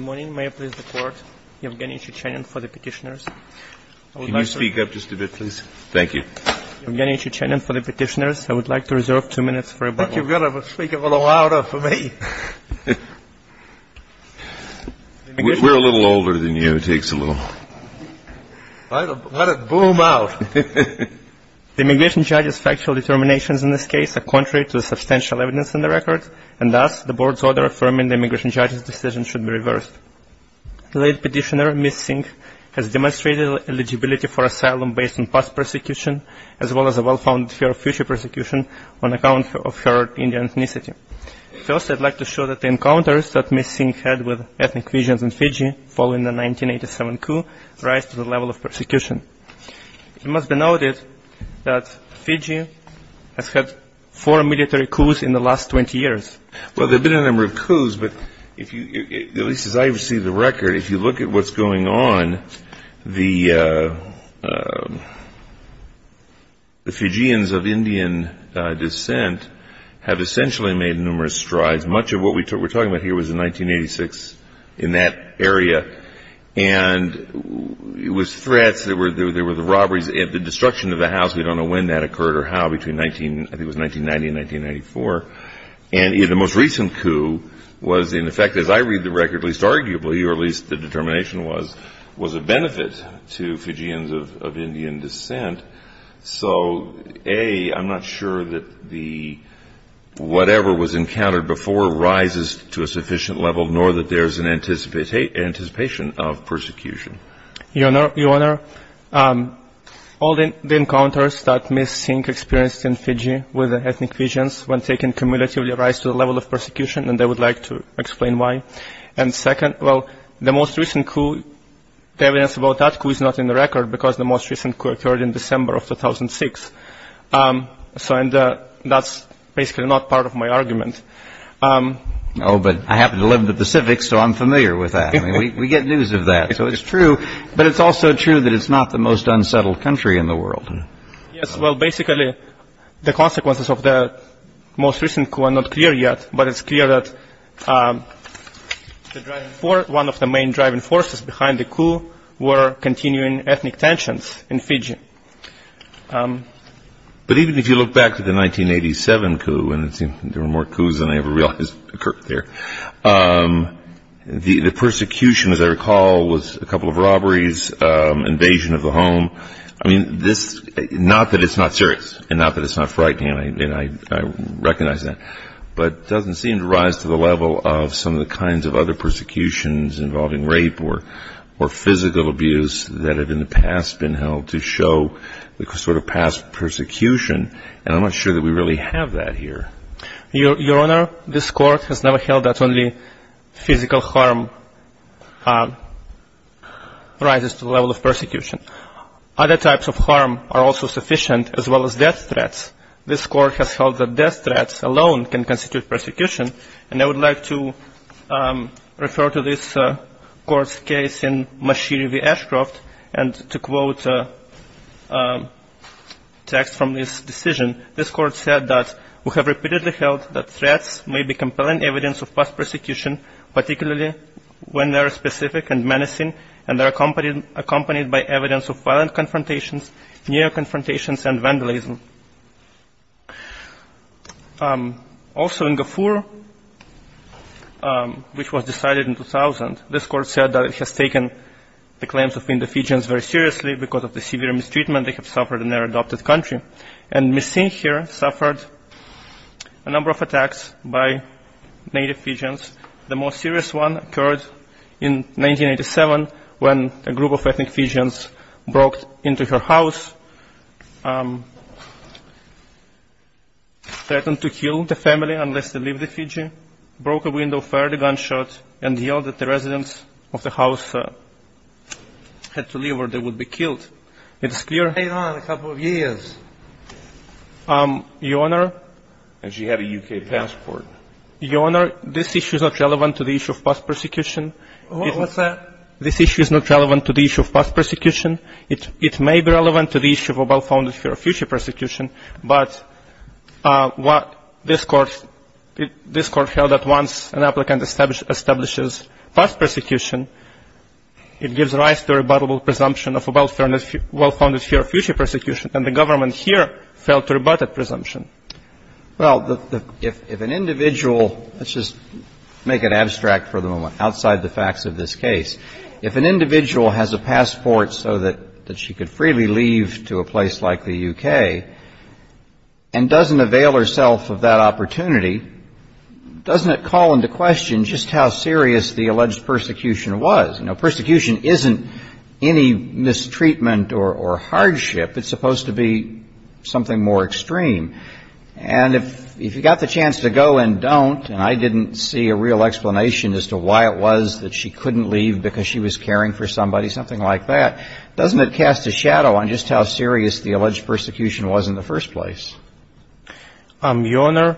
The immigration judge's factual determinations in this case are contrary to the substantial evidence in the record, and thus the Board's order affirming the immigration judge's decision should be reversed. The late petitioner, Ms. Singh, has demonstrated eligibility for asylum based on past persecution, as well as a well-founded fear of future persecution on account of her Indian ethnicity. First, I'd like to show that the encounters that Ms. Singh had with ethnic Vijans in Fiji following the 1987 coup rise to the level of persecution. It must be noted that Fiji has had four military coups in the last 20 years. Well, there have been a number of coups, but at least as I see the record, if you look at what's going on, the Fijians of Indian descent have essentially made numerous strides. Much of what we're talking about here was in 1986 in that area, and it was threats, there were the robberies, and the destruction of the house, we don't know when that occurred or how, between 1990 and 1994. And the most recent coup was, in effect, as I read the record, at least arguably, or at least the determination was, was a benefit to Fijians of Indian descent. So, A, I'm not sure that whatever was encountered before rises to a sufficient level, nor that there's an anticipation of persecution. Your Honor, all the encounters that Ms. Singh experienced in Fiji with ethnic Vijans when taken cumulatively rise to the level of persecution, and I would like to explain why. And second, well, the most recent coup, the evidence about that coup is not in the record because the most recent coup occurred in December of 2006. So that's basically not part of my argument. Oh, but I happen to live in the Pacific, so I'm familiar with that. We get news of that, so it's true. But it's also true that it's not the most unsettled country in the world. Yes, well, basically, the consequences of the most recent coup are not clear yet, but it's clear that one of the main driving forces behind the coup were continuing ethnic tensions in Fiji. But even if you look back to the 1987 coup, and there were more coups than I ever realized occurred there, the persecution, as I recall, was a couple of robberies, invasion of the home. I mean, not that it's not serious and not that it's not frightening, and I recognize that, but it doesn't seem to rise to the level of some of the kinds of other persecutions involving rape or physical abuse that have in the past been held to show the sort of past persecution, and I'm not sure that we really have that here. Your Honor, this Court has never held that only physical harm rises to the level of persecution. Other types of harm are also sufficient, as well as death threats. This Court has held that death threats alone can constitute persecution, and I would like to refer to this Court's case in Mashiri v. Ashcroft, and to quote text from this decision, this Court said that we have repeatedly held that threats may be compelling evidence of past persecution, particularly when they are specific and menacing, and they are accompanied by evidence of violent confrontations, neo-confrontations, and vandalism. Also in Gafur, which was decided in 2000, this Court said that it has taken the claims of Indian Fijians very seriously because of the severe mistreatment they have suffered in their adopted country, and Ms. Singh here suffered a number of attacks by native Fijians. The most serious one occurred in 1987 when a group of ethnic Fijians broke into her house, threatened to kill the family unless they leave the Fiji, broke a window, fired a gunshot, and yelled that the residents of the house had to leave or they would be killed. It's clear that the Fijians have been here for a number of years. Your Honor. And she had a U.K. passport. Your Honor, this issue is not relevant to the issue of past persecution. What was that? This issue is not relevant to the issue of past persecution. It may be relevant to the issue of a well-founded fear of future persecution, but what this Court held that once an applicant establishes past persecution, it gives rise to a rebuttable presumption of a well-founded fear of future persecution, and the government here failed to rebut that presumption. Well, if an individual — let's just make it abstract for the moment, outside the facts of this case. If an individual has a passport so that she could freely leave to a place like the U.K. and doesn't avail herself of that opportunity, doesn't it call into question just how serious the alleged persecution was? You know, persecution isn't any mistreatment or hardship. It's supposed to be something more extreme. And if you got the chance to go and don't, and I didn't see a real explanation as to why it was that she couldn't leave because she was caring for somebody, something like that, doesn't it cast a shadow on just how serious the alleged persecution was in the first place? Your Honor,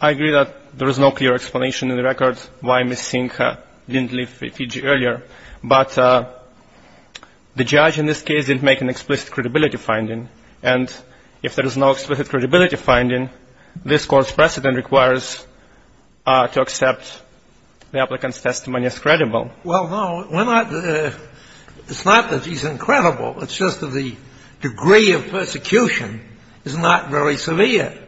I agree that there is no clear explanation in the records why Ms. Sinca didn't leave Fiji earlier. But the judge in this case didn't make an explicit credibility finding. And if there is no explicit credibility finding, this Court's precedent requires to accept the applicant's testimony as credible. Well, no. We're not — it's not that she's incredible. It's just that the degree of persecution is not very severe.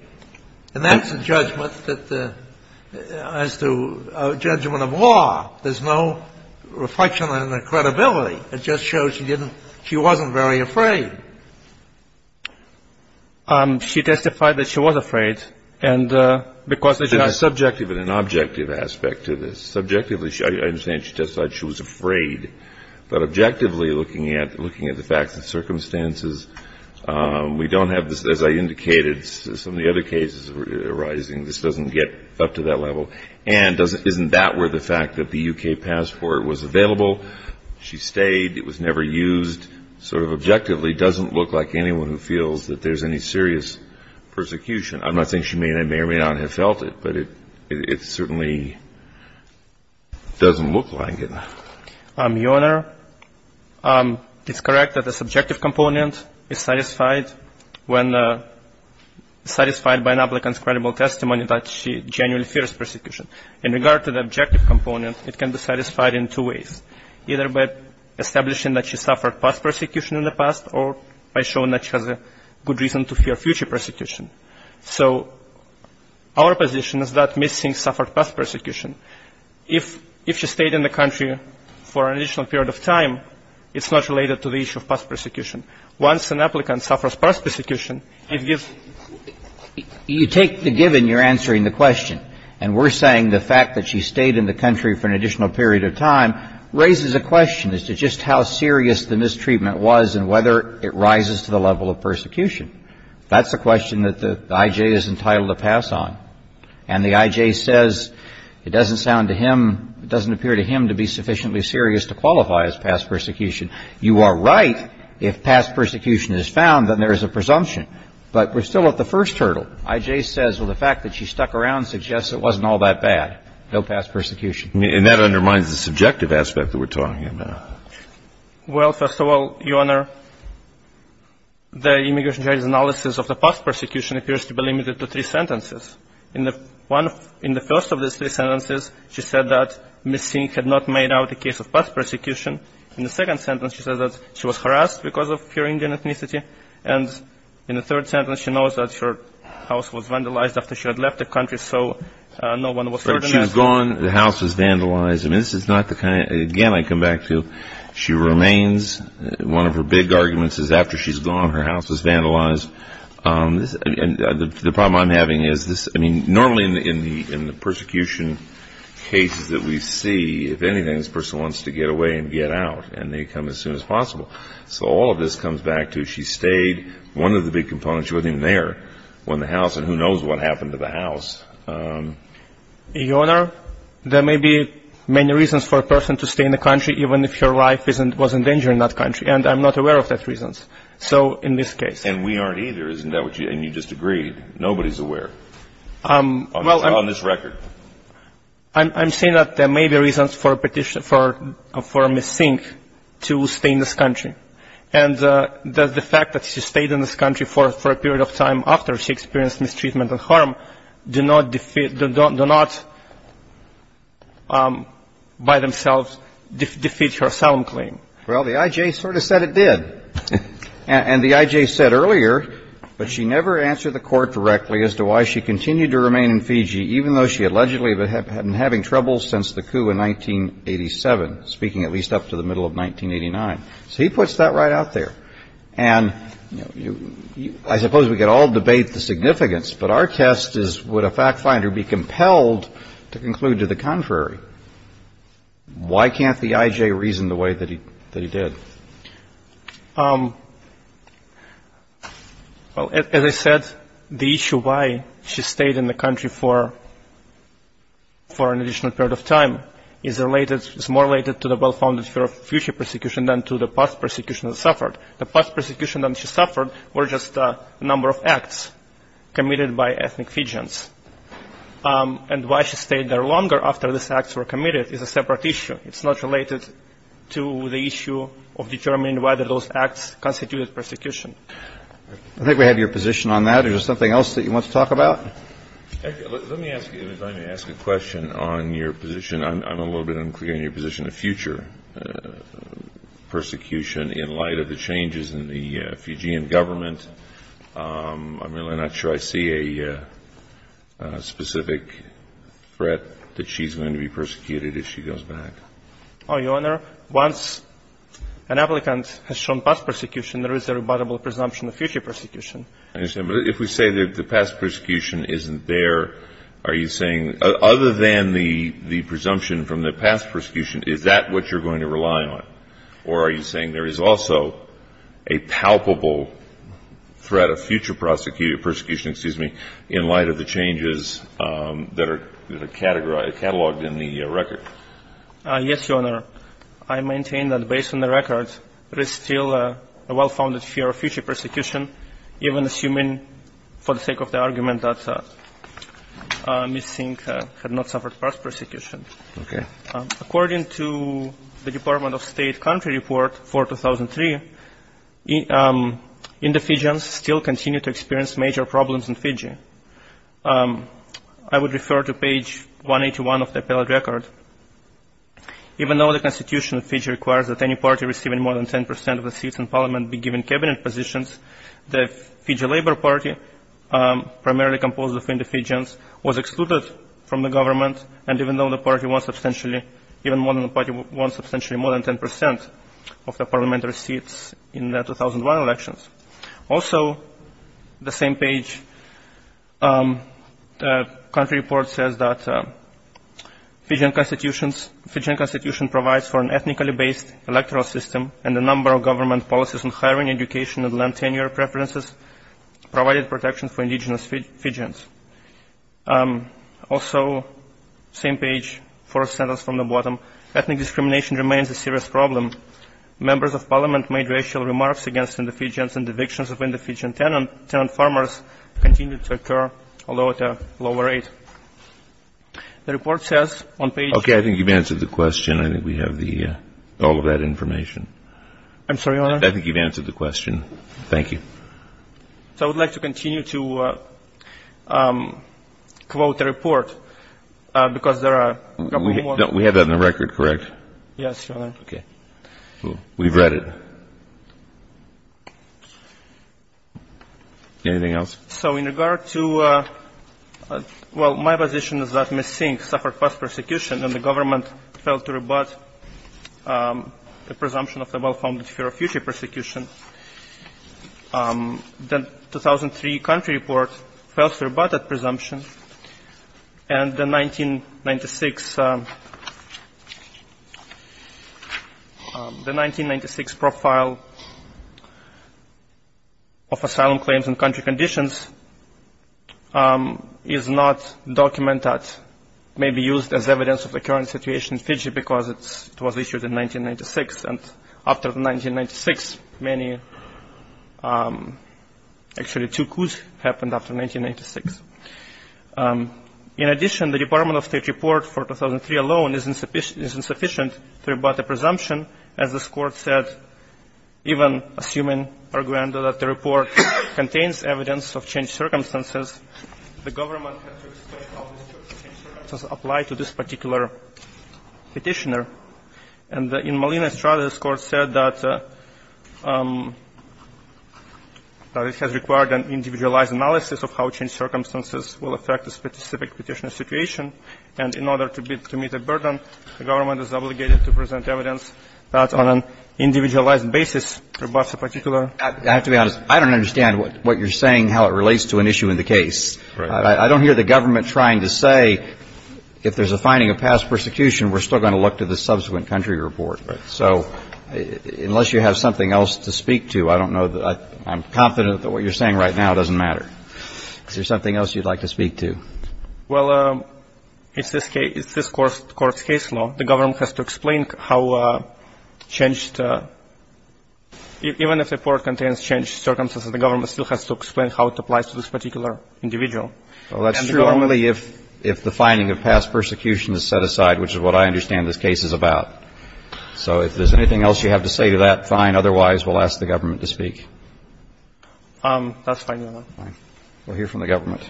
And that's a judgment that — as to a judgment of law. There's no reflection on her credibility. It just shows she didn't — she wasn't very afraid. She testified that she was afraid. And because the judge — There's a subjective and an objective aspect to this. Subjectively, I understand she testified she was afraid. But objectively, looking at the facts and circumstances, we don't have, as I indicated, some of the other cases arising, this doesn't get up to that level. And isn't that where the fact that the U.K. passport was available? She stayed. It was never used. It sort of objectively doesn't look like anyone who feels that there's any serious persecution. I'm not saying she may or may not have felt it, but it certainly doesn't look like it. Your Honor, it's correct that the subjective component is satisfied when — satisfied by an applicant's credible testimony that she genuinely fears persecution. In regard to the objective component, it can be satisfied in two ways. Either by establishing that she suffered past persecution in the past or by showing that she has a good reason to fear future persecution. So our position is that Ms. Sinks suffered past persecution. If she stayed in the country for an additional period of time, it's not related to the issue of past persecution. Once an applicant suffers past persecution, it gives — You take the given, you're answering the question. And we're saying the fact that she stayed in the country for an additional period of time raises a question as to just how serious the mistreatment was and whether it rises to the level of persecution. That's a question that the I.J. is entitled to pass on. And the I.J. says it doesn't sound to him — it doesn't appear to him to be sufficiently serious to qualify as past persecution. You are right if past persecution is found, then there is a presumption. But we're still at the first hurdle. The I.J. says, well, the fact that she stuck around suggests it wasn't all that bad, no past persecution. And that undermines the subjective aspect that we're talking about. Well, first of all, Your Honor, the immigration judge's analysis of the past persecution appears to be limited to three sentences. In the first of those three sentences, she said that Ms. Sinks had not made out a case of past persecution. In the second sentence, she said that she was harassed because of her Indian ethnicity. And in the third sentence, she knows that her house was vandalized after she had left the country, so no one was hurting her. She was gone. The house was vandalized. I mean, this is not the kind of — again, I come back to she remains. One of her big arguments is after she's gone, her house was vandalized. And the problem I'm having is this — I mean, normally in the persecution cases that we see, if anything, this person wants to get away and get out, and they come as soon as possible. So all of this comes back to she stayed. One of the big components, she wasn't even there when the house — and who knows what happened to the house. Your Honor, there may be many reasons for a person to stay in the country even if her life was in danger in that country. And I'm not aware of those reasons. So in this case — And we aren't either, isn't that what you — and you just agreed. Nobody's aware on this record. I'm saying that there may be reasons for a petition — for a missing to stay in this country. And the fact that she stayed in this country for a period of time after she experienced mistreatment and harm do not defeat — do not by themselves defeat her asylum claim. Well, the I.J. sort of said it did. And the I.J. said earlier, but she never answered the Court directly as to why she continued to remain in Fiji even though she allegedly had been having trouble since the coup in 1987, speaking at least up to the middle of 1989. So he puts that right out there. And I suppose we could all debate the significance, but our test is would a fact finder be compelled to conclude to the contrary? Why can't the I.J. reason the way that he did? Well, as I said, the issue why she stayed in the country for an additional period of time is related — is more related to the well-founded fear of future persecution than to the past persecution she suffered. The past persecution that she suffered were just a number of acts committed by ethnic Fijians. And why she stayed there longer after these acts were committed is a separate issue. It's not related to the issue of determining whether those acts constituted persecution. I think we have your position on that. Is there something else that you want to talk about? Let me ask a question on your position. I'm a little bit unclear on your position of future persecution in light of the changes in the Fijian government. I'm really not sure I see a specific threat that she's going to be persecuted if she goes back. Your Honor, once an applicant has shown past persecution, there is a rebuttable presumption of future persecution. I understand. But if we say that the past persecution isn't there, are you saying — other than the presumption from the past persecution, is that what you're going to rely on? Or are you saying there is also a palpable threat of future persecution in light of the changes that are cataloged in the record? Yes, Your Honor. I maintain that based on the records, there is still a well-founded fear of future persecution, even assuming for the sake of the argument that Ms. Singh had not suffered past persecution. Okay. According to the Department of State country report for 2003, Indi-Fijians still continue to experience major problems in Fiji. I would refer to page 181 of the appellate record. Even though the Constitution of Fiji requires that any party receiving more than 10 percent of the seats in parliament be given cabinet positions, the Fiji Labor Party, primarily composed of Indi-Fijians, was excluded from the government, and even though the party won substantially — even more than the party won substantially more than 10 percent of the parliamentary seats in the 2001 elections. Also, the same page, country report says that Fijian constitution provides for an ethnically-based electoral system, and the number of government policies on hiring, education, and land tenure preferences provided protection for Indi-Fijians. Also, same page, first sentence from the bottom, ethnic discrimination remains a serious problem. Members of parliament made racial remarks against Indi-Fijians, and evictions of Indi-Fijian tenant farmers continue to occur, although at a lower rate. The report says on page — Okay. I think you've answered the question. I'm sorry, Your Honor. I think you've answered the question. Thank you. So I would like to continue to quote the report because there are a couple more. We have that in the record, correct? Yes, Your Honor. Okay. We've read it. Anything else? So in regard to — well, my position is that Ms. Singh suffered past persecution, and the government failed to rebut the presumption of the well-founded fear of future persecution. The 2003 country report fails to rebut that presumption, and the 1996 profile of asylum claims and country conditions is not documented, may be used as evidence of the current situation in Fiji because it was issued in 1996, and after 1996, many — actually, two coups happened after 1996. In addition, the Department of State report for 2003 alone is insufficient to rebut the presumption. As this Court said, even assuming, Arguendo, that the report contains evidence of changed circumstances, the government has to explain how these changed circumstances apply to this particular petitioner. And in Molina's trial, this Court said that it has required an individualized analysis of how changed circumstances will affect the specific petitioner's situation, and in order to meet the burden, the government is obligated to present evidence that on an individualized basis rebuts a particular — I have to be honest. I don't understand what you're saying, how it relates to an issue in the case. Right. I don't hear the government trying to say if there's a finding of past persecution, we're still going to look to the subsequent country report. Right. So unless you have something else to speak to, I don't know. I'm confident that what you're saying right now doesn't matter. Is there something else you'd like to speak to? Well, it's this Court's case law. The government has to explain how changed — even if the report contains changed circumstances, the government still has to explain how it applies to this particular individual. Well, that's true only if the finding of past persecution is set aside, which is what I understand this case is about. So if there's anything else you have to say to that, fine. Otherwise, we'll ask the government to speak. That's fine, Your Honor. Fine. We'll hear from the government.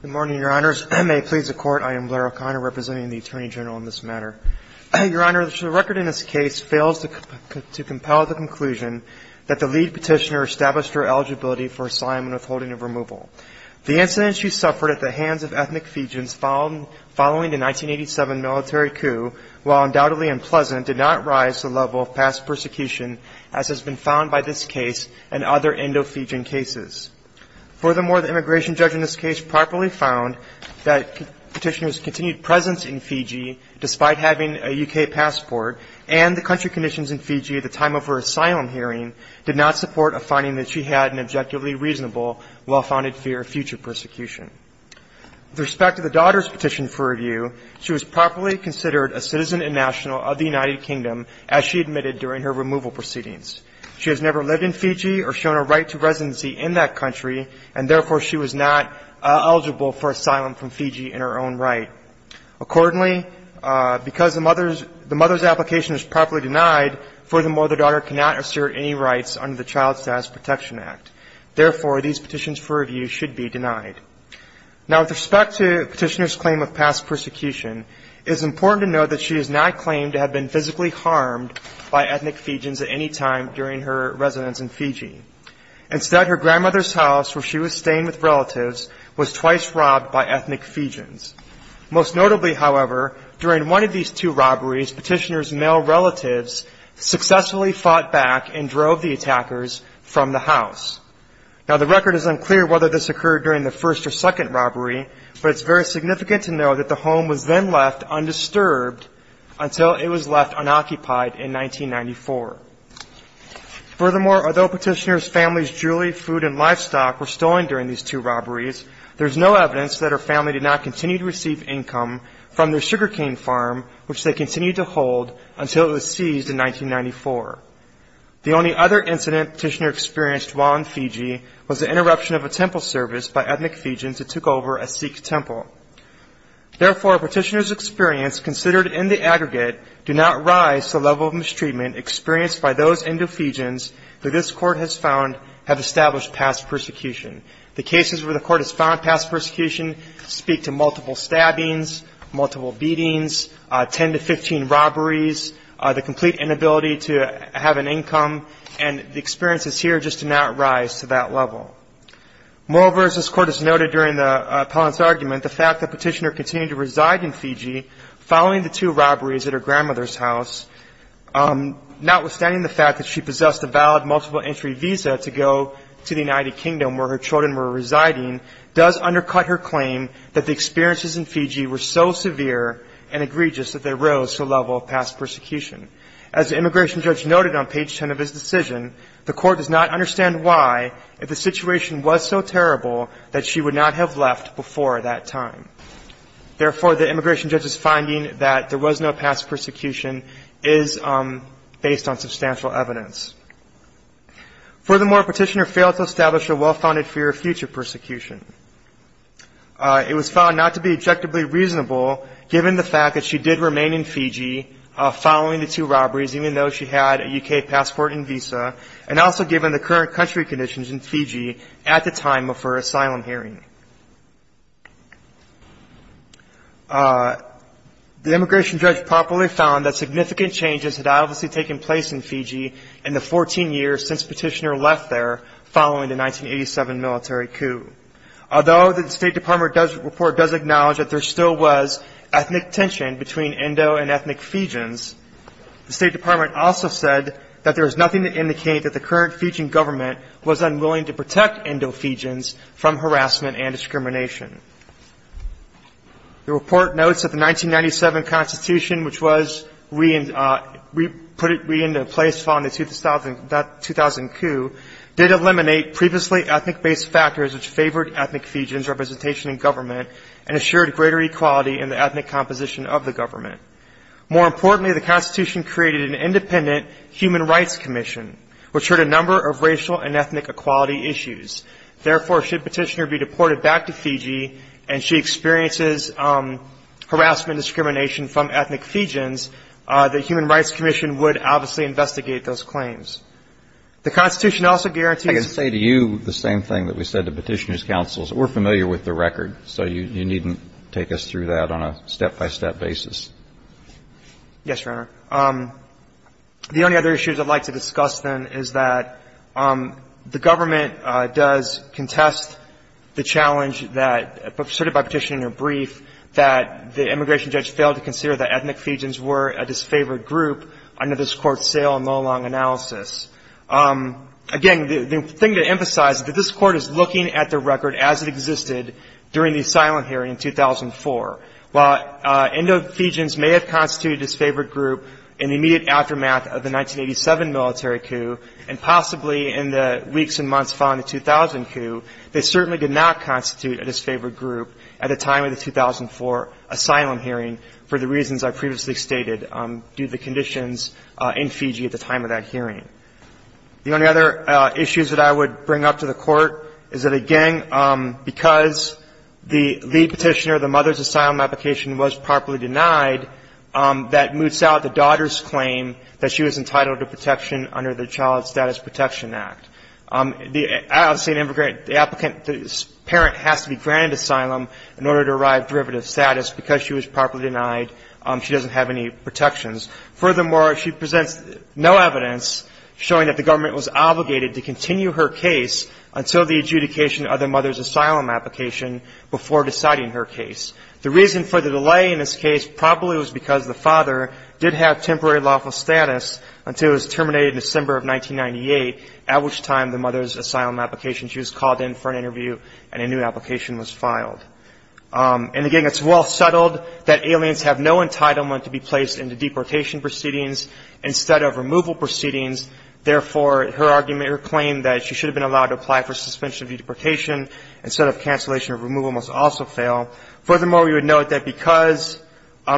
Good morning, Your Honors. May it please the Court, I am Blair O'Connor, representing the Attorney General in this matter. Your Honor, the record in this case fails to compel the conclusion that the lead petitioner established her eligibility for assignment withholding of removal. The incident she suffered at the hands of ethnic Fijans follows a case in which an ethnic Fijan woman, following the 1987 military coup, while undoubtedly unpleasant, did not rise to the level of past persecution, as has been found by this case and other Indo-Fijan cases. Furthermore, the immigration judge in this case properly found that the petitioner's continued presence in Fiji, despite having a U.K. passport and the country conditions in Fiji at the time of her asylum hearing, did not support a finding that she had an objectively reasonable, well-founded fear of future persecution. With respect to the daughter's petition for review, she was properly considered a citizen and national of the United Kingdom, as she admitted during her removal proceedings. She has never lived in Fiji or shown a right to residency in that country, and therefore she was not eligible for asylum from Fiji in her own right. Accordingly, because the mother's application is properly denied, furthermore, the daughter cannot assert any rights under the Child Status Protection Act. Therefore, these petitions for review should be denied. Now, with respect to the petitioner's claim of past persecution, it is important to note that she has not claimed to have been physically harmed by ethnic Fijians at any time during her residence in Fiji. Instead, her grandmother's house, where she was staying with relatives, was twice robbed by ethnic Fijians. Most notably, however, during one of these two robberies, petitioner's male relatives successfully fought back and drove the attackers from the house. Now, the record is unclear whether this occurred during the first or second robbery, but it's very significant to note that the home was then left undisturbed until it was left unoccupied in 1994. Furthermore, although petitioner's family's jewelry, food, and livestock were stolen during these two robberies, there is no evidence that her family did not continue to receive income from their sugarcane farm, which they continued to hold until it was seized in 1994. The only other incident petitioner experienced while in Fiji was the interruption of a temple service by ethnic Fijians that took over a Sikh temple. Therefore, petitioner's experience, considered in the aggregate, do not rise to the level of mistreatment experienced by those Indo-Fijians that this court has found have established past persecution. The cases where the court has found past persecution speak to multiple stabbings, multiple beatings, 10 to 15 robberies, the complete inability to have an income, and the experiences here just do not rise to that level. Moreover, as this court has noted during the appellant's argument, the fact that petitioner continued to reside in Fiji following the two robberies at her grandmother's house, notwithstanding the fact that she possessed a valid multiple entry visa to go to the United Kingdom where her children were residing, does undercut her claim that the experiences in Fiji were so severe and egregious that they rose to the level of past persecution. As the immigration judge noted on page 10 of his decision, the court does not understand why, if the situation was so terrible, that she would not have left before that time. Therefore, the immigration judge's finding that there was no past persecution is based on substantial evidence. Furthermore, petitioner failed to establish a well-founded fear of future persecution. It was found not to be objectively reasonable, given the fact that she did remain in Fiji following the two robberies, even though she had a U.K. passport and visa, and also given the current country conditions in Fiji at the time of her asylum hearing. The immigration judge properly found that significant changes had obviously taken place in Fiji in the 14 years since petitioner left there following the 1987 military coup. Although the State Department report does acknowledge that there still was ethnic tension between Indo and ethnic Fijians, the State Department also said that there is nothing to indicate that the current Fijian government was unwilling to protect Indo-Fijians from harassment and discrimination. The report notes that the 1997 Constitution, which was put into place following the 2000 coup, did eliminate previously ethnic-based factors which favored ethnic Fijians' representation in government and assured greater equality in the ethnic composition of the government. More importantly, the Constitution created an independent Human Rights Commission, which heard a number of racial and ethnic equality issues. Therefore, should petitioner be deported back to Fiji and she experiences harassment and discrimination from ethnic Fijians, the Human Rights Commission would obviously investigate those claims. The Constitution also guarantees the same thing that we said to petitioner's counsels. We're familiar with the record, so you needn't take us through that on a step-by-step basis. Yes, Your Honor. The only other issues I'd like to discuss, then, is that the government does contest the challenge that asserted by petitioner in her brief that the immigration judge failed to consider that ethnic Fijians were a disfavored group under this Court's sale and low-long analysis. Again, the thing to emphasize is that this Court is looking at the record as it existed during the asylum hearing in 2004. While Indo-Fijians may have constituted a disfavored group in the immediate aftermath of the 1987 military coup and possibly in the weeks and months following the 2000 coup, they certainly did not constitute a disfavored group at the time of the 2004 asylum hearing for the reasons I previously stated due to the conditions in Fiji at the time of that hearing. The only other issues that I would bring up to the Court is that, again, because the lead petitioner of the mother's asylum application was properly denied, that moots out the daughter's claim that she was entitled to protection under the Child Status Protection Act. The applicant's parent has to be granted asylum in order to arrive at derivative status. Because she was properly denied, she doesn't have any protections. Furthermore, she presents no evidence showing that the government was obligated to continue her case until the adjudication of the mother's asylum application before deciding her case. The reason for the delay in this case probably was because the father did have temporary lawful status until it was terminated in December of 1998, at which time the mother's asylum application, she was called in for an interview and a new application was filed. And, again, it's well settled that aliens have no entitlement to be placed into deportation proceedings instead of removal proceedings. Therefore, her argument, her claim that she should have been allowed to apply for suspension of deportation instead of cancellation of removal must also fail. Furthermore, we would note that because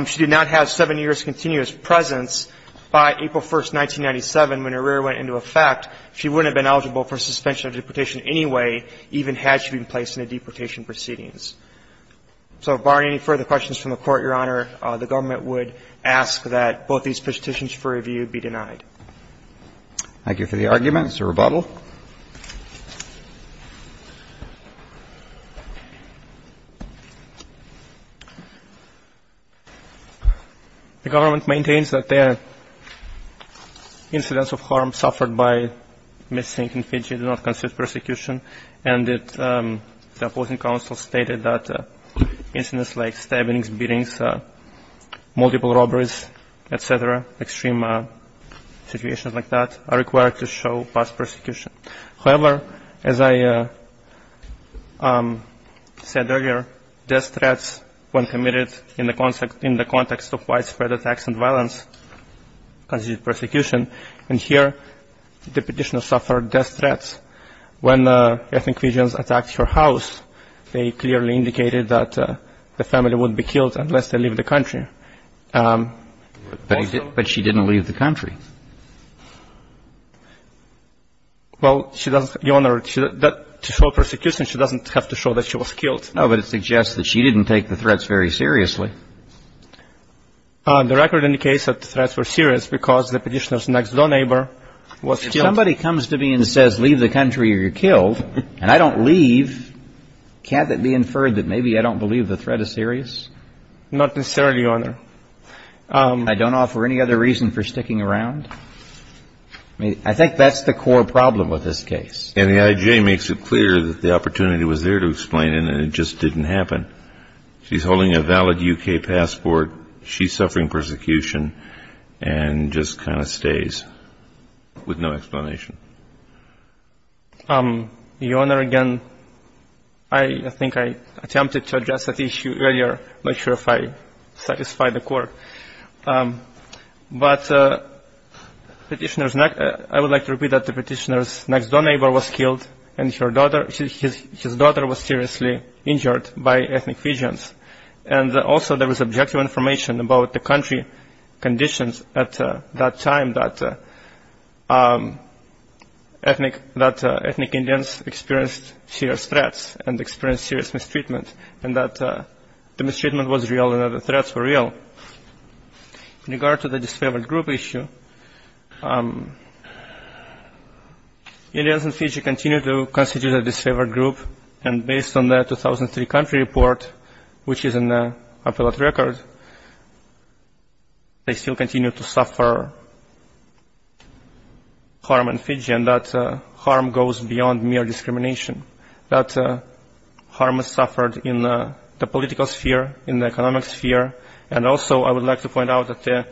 she did not have seven years' continuous presence, by April 1, 1997, when her rear went into effect, she wouldn't have been eligible for suspension of deportation anyway, even had she been placed into deportation proceedings. So barring any further questions from the Court, Your Honor, the government would ask that both these petitions for review be denied. Thank you for the argument. It's a rebuttal. The government maintains that the incidents of harm suffered by missing in Fiji do not constitute persecution and that the opposing counsel stated that incidents like stabbings, beatings, multiple robberies, et cetera, extreme situations like that are required to show past persecution. However, as I said earlier, death threats when committed in the context of widespread attacks and violence constitute persecution. And here the petitioner suffered death threats. When ethnic Fijians attacked her house, they clearly indicated that the family would be killed unless they leave the country. But she didn't leave the country. Well, Your Honor, to show persecution, she doesn't have to show that she was killed. No, but it suggests that she didn't take the threats very seriously. The record indicates that the threats were serious because the petitioner's next-door neighbor was killed. If somebody comes to me and says, leave the country or you're killed, and I don't leave, can't that be inferred that maybe I don't believe the threat is serious? Not necessarily, Your Honor. I don't offer any other reason for sticking around. I think that's the core problem with this case. And the IJ makes it clear that the opportunity was there to explain it and it just didn't happen. She's holding a valid U.K. passport. She's suffering persecution and just kind of stays with no explanation. Your Honor, again, I think I attempted to address that issue earlier. I'm not sure if I satisfied the court. But petitioner's next – I would like to repeat that the petitioner's next-door neighbor was killed and her daughter – his daughter was seriously injured by ethnic Fijians. And also, there was objective information about the country conditions at that time that ethnic Indians experienced serious threats and experienced serious mistreatment and that the mistreatment was real and that the threats were real. In regard to the disfavored group issue, Indians in Fiji continue to constitute a disfavored group. And based on the 2003 country report, which is in the appellate record, they still continue to suffer harm in Fiji and that harm goes beyond mere discrimination. That harm is suffered in the political sphere, in the economic sphere. And also, I would like to point out that the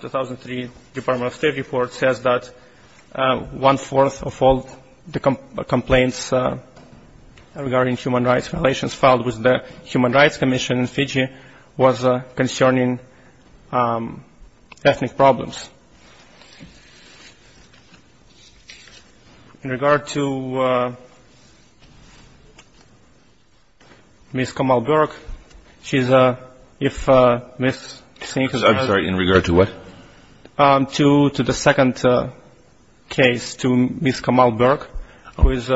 2003 Department of State report says that one-fourth of all the complaints regarding human rights violations filed with the Human Rights Commission in Fiji was concerning ethnic problems. In regard to Ms. Kamal Burke, she's a – if Ms. Singh has her hand up. I'm sorry. In regard to what? To the second case, to Ms. Kamal Burke, whose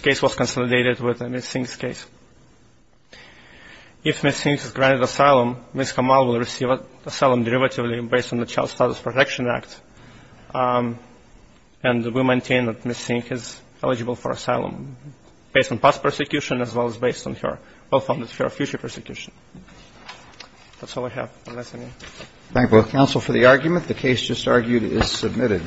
case was consolidated with Ms. Singh's case. If Ms. Singh is granted asylum, Ms. Kamal will receive asylum derivatively based on the Child Status Protection Act and will maintain that Ms. Singh is eligible for asylum based on past persecution as well as based on her well-founded fear of future persecution. That's all I have. Thank you. Thank you both counsel for the argument. The case just argued is submitted.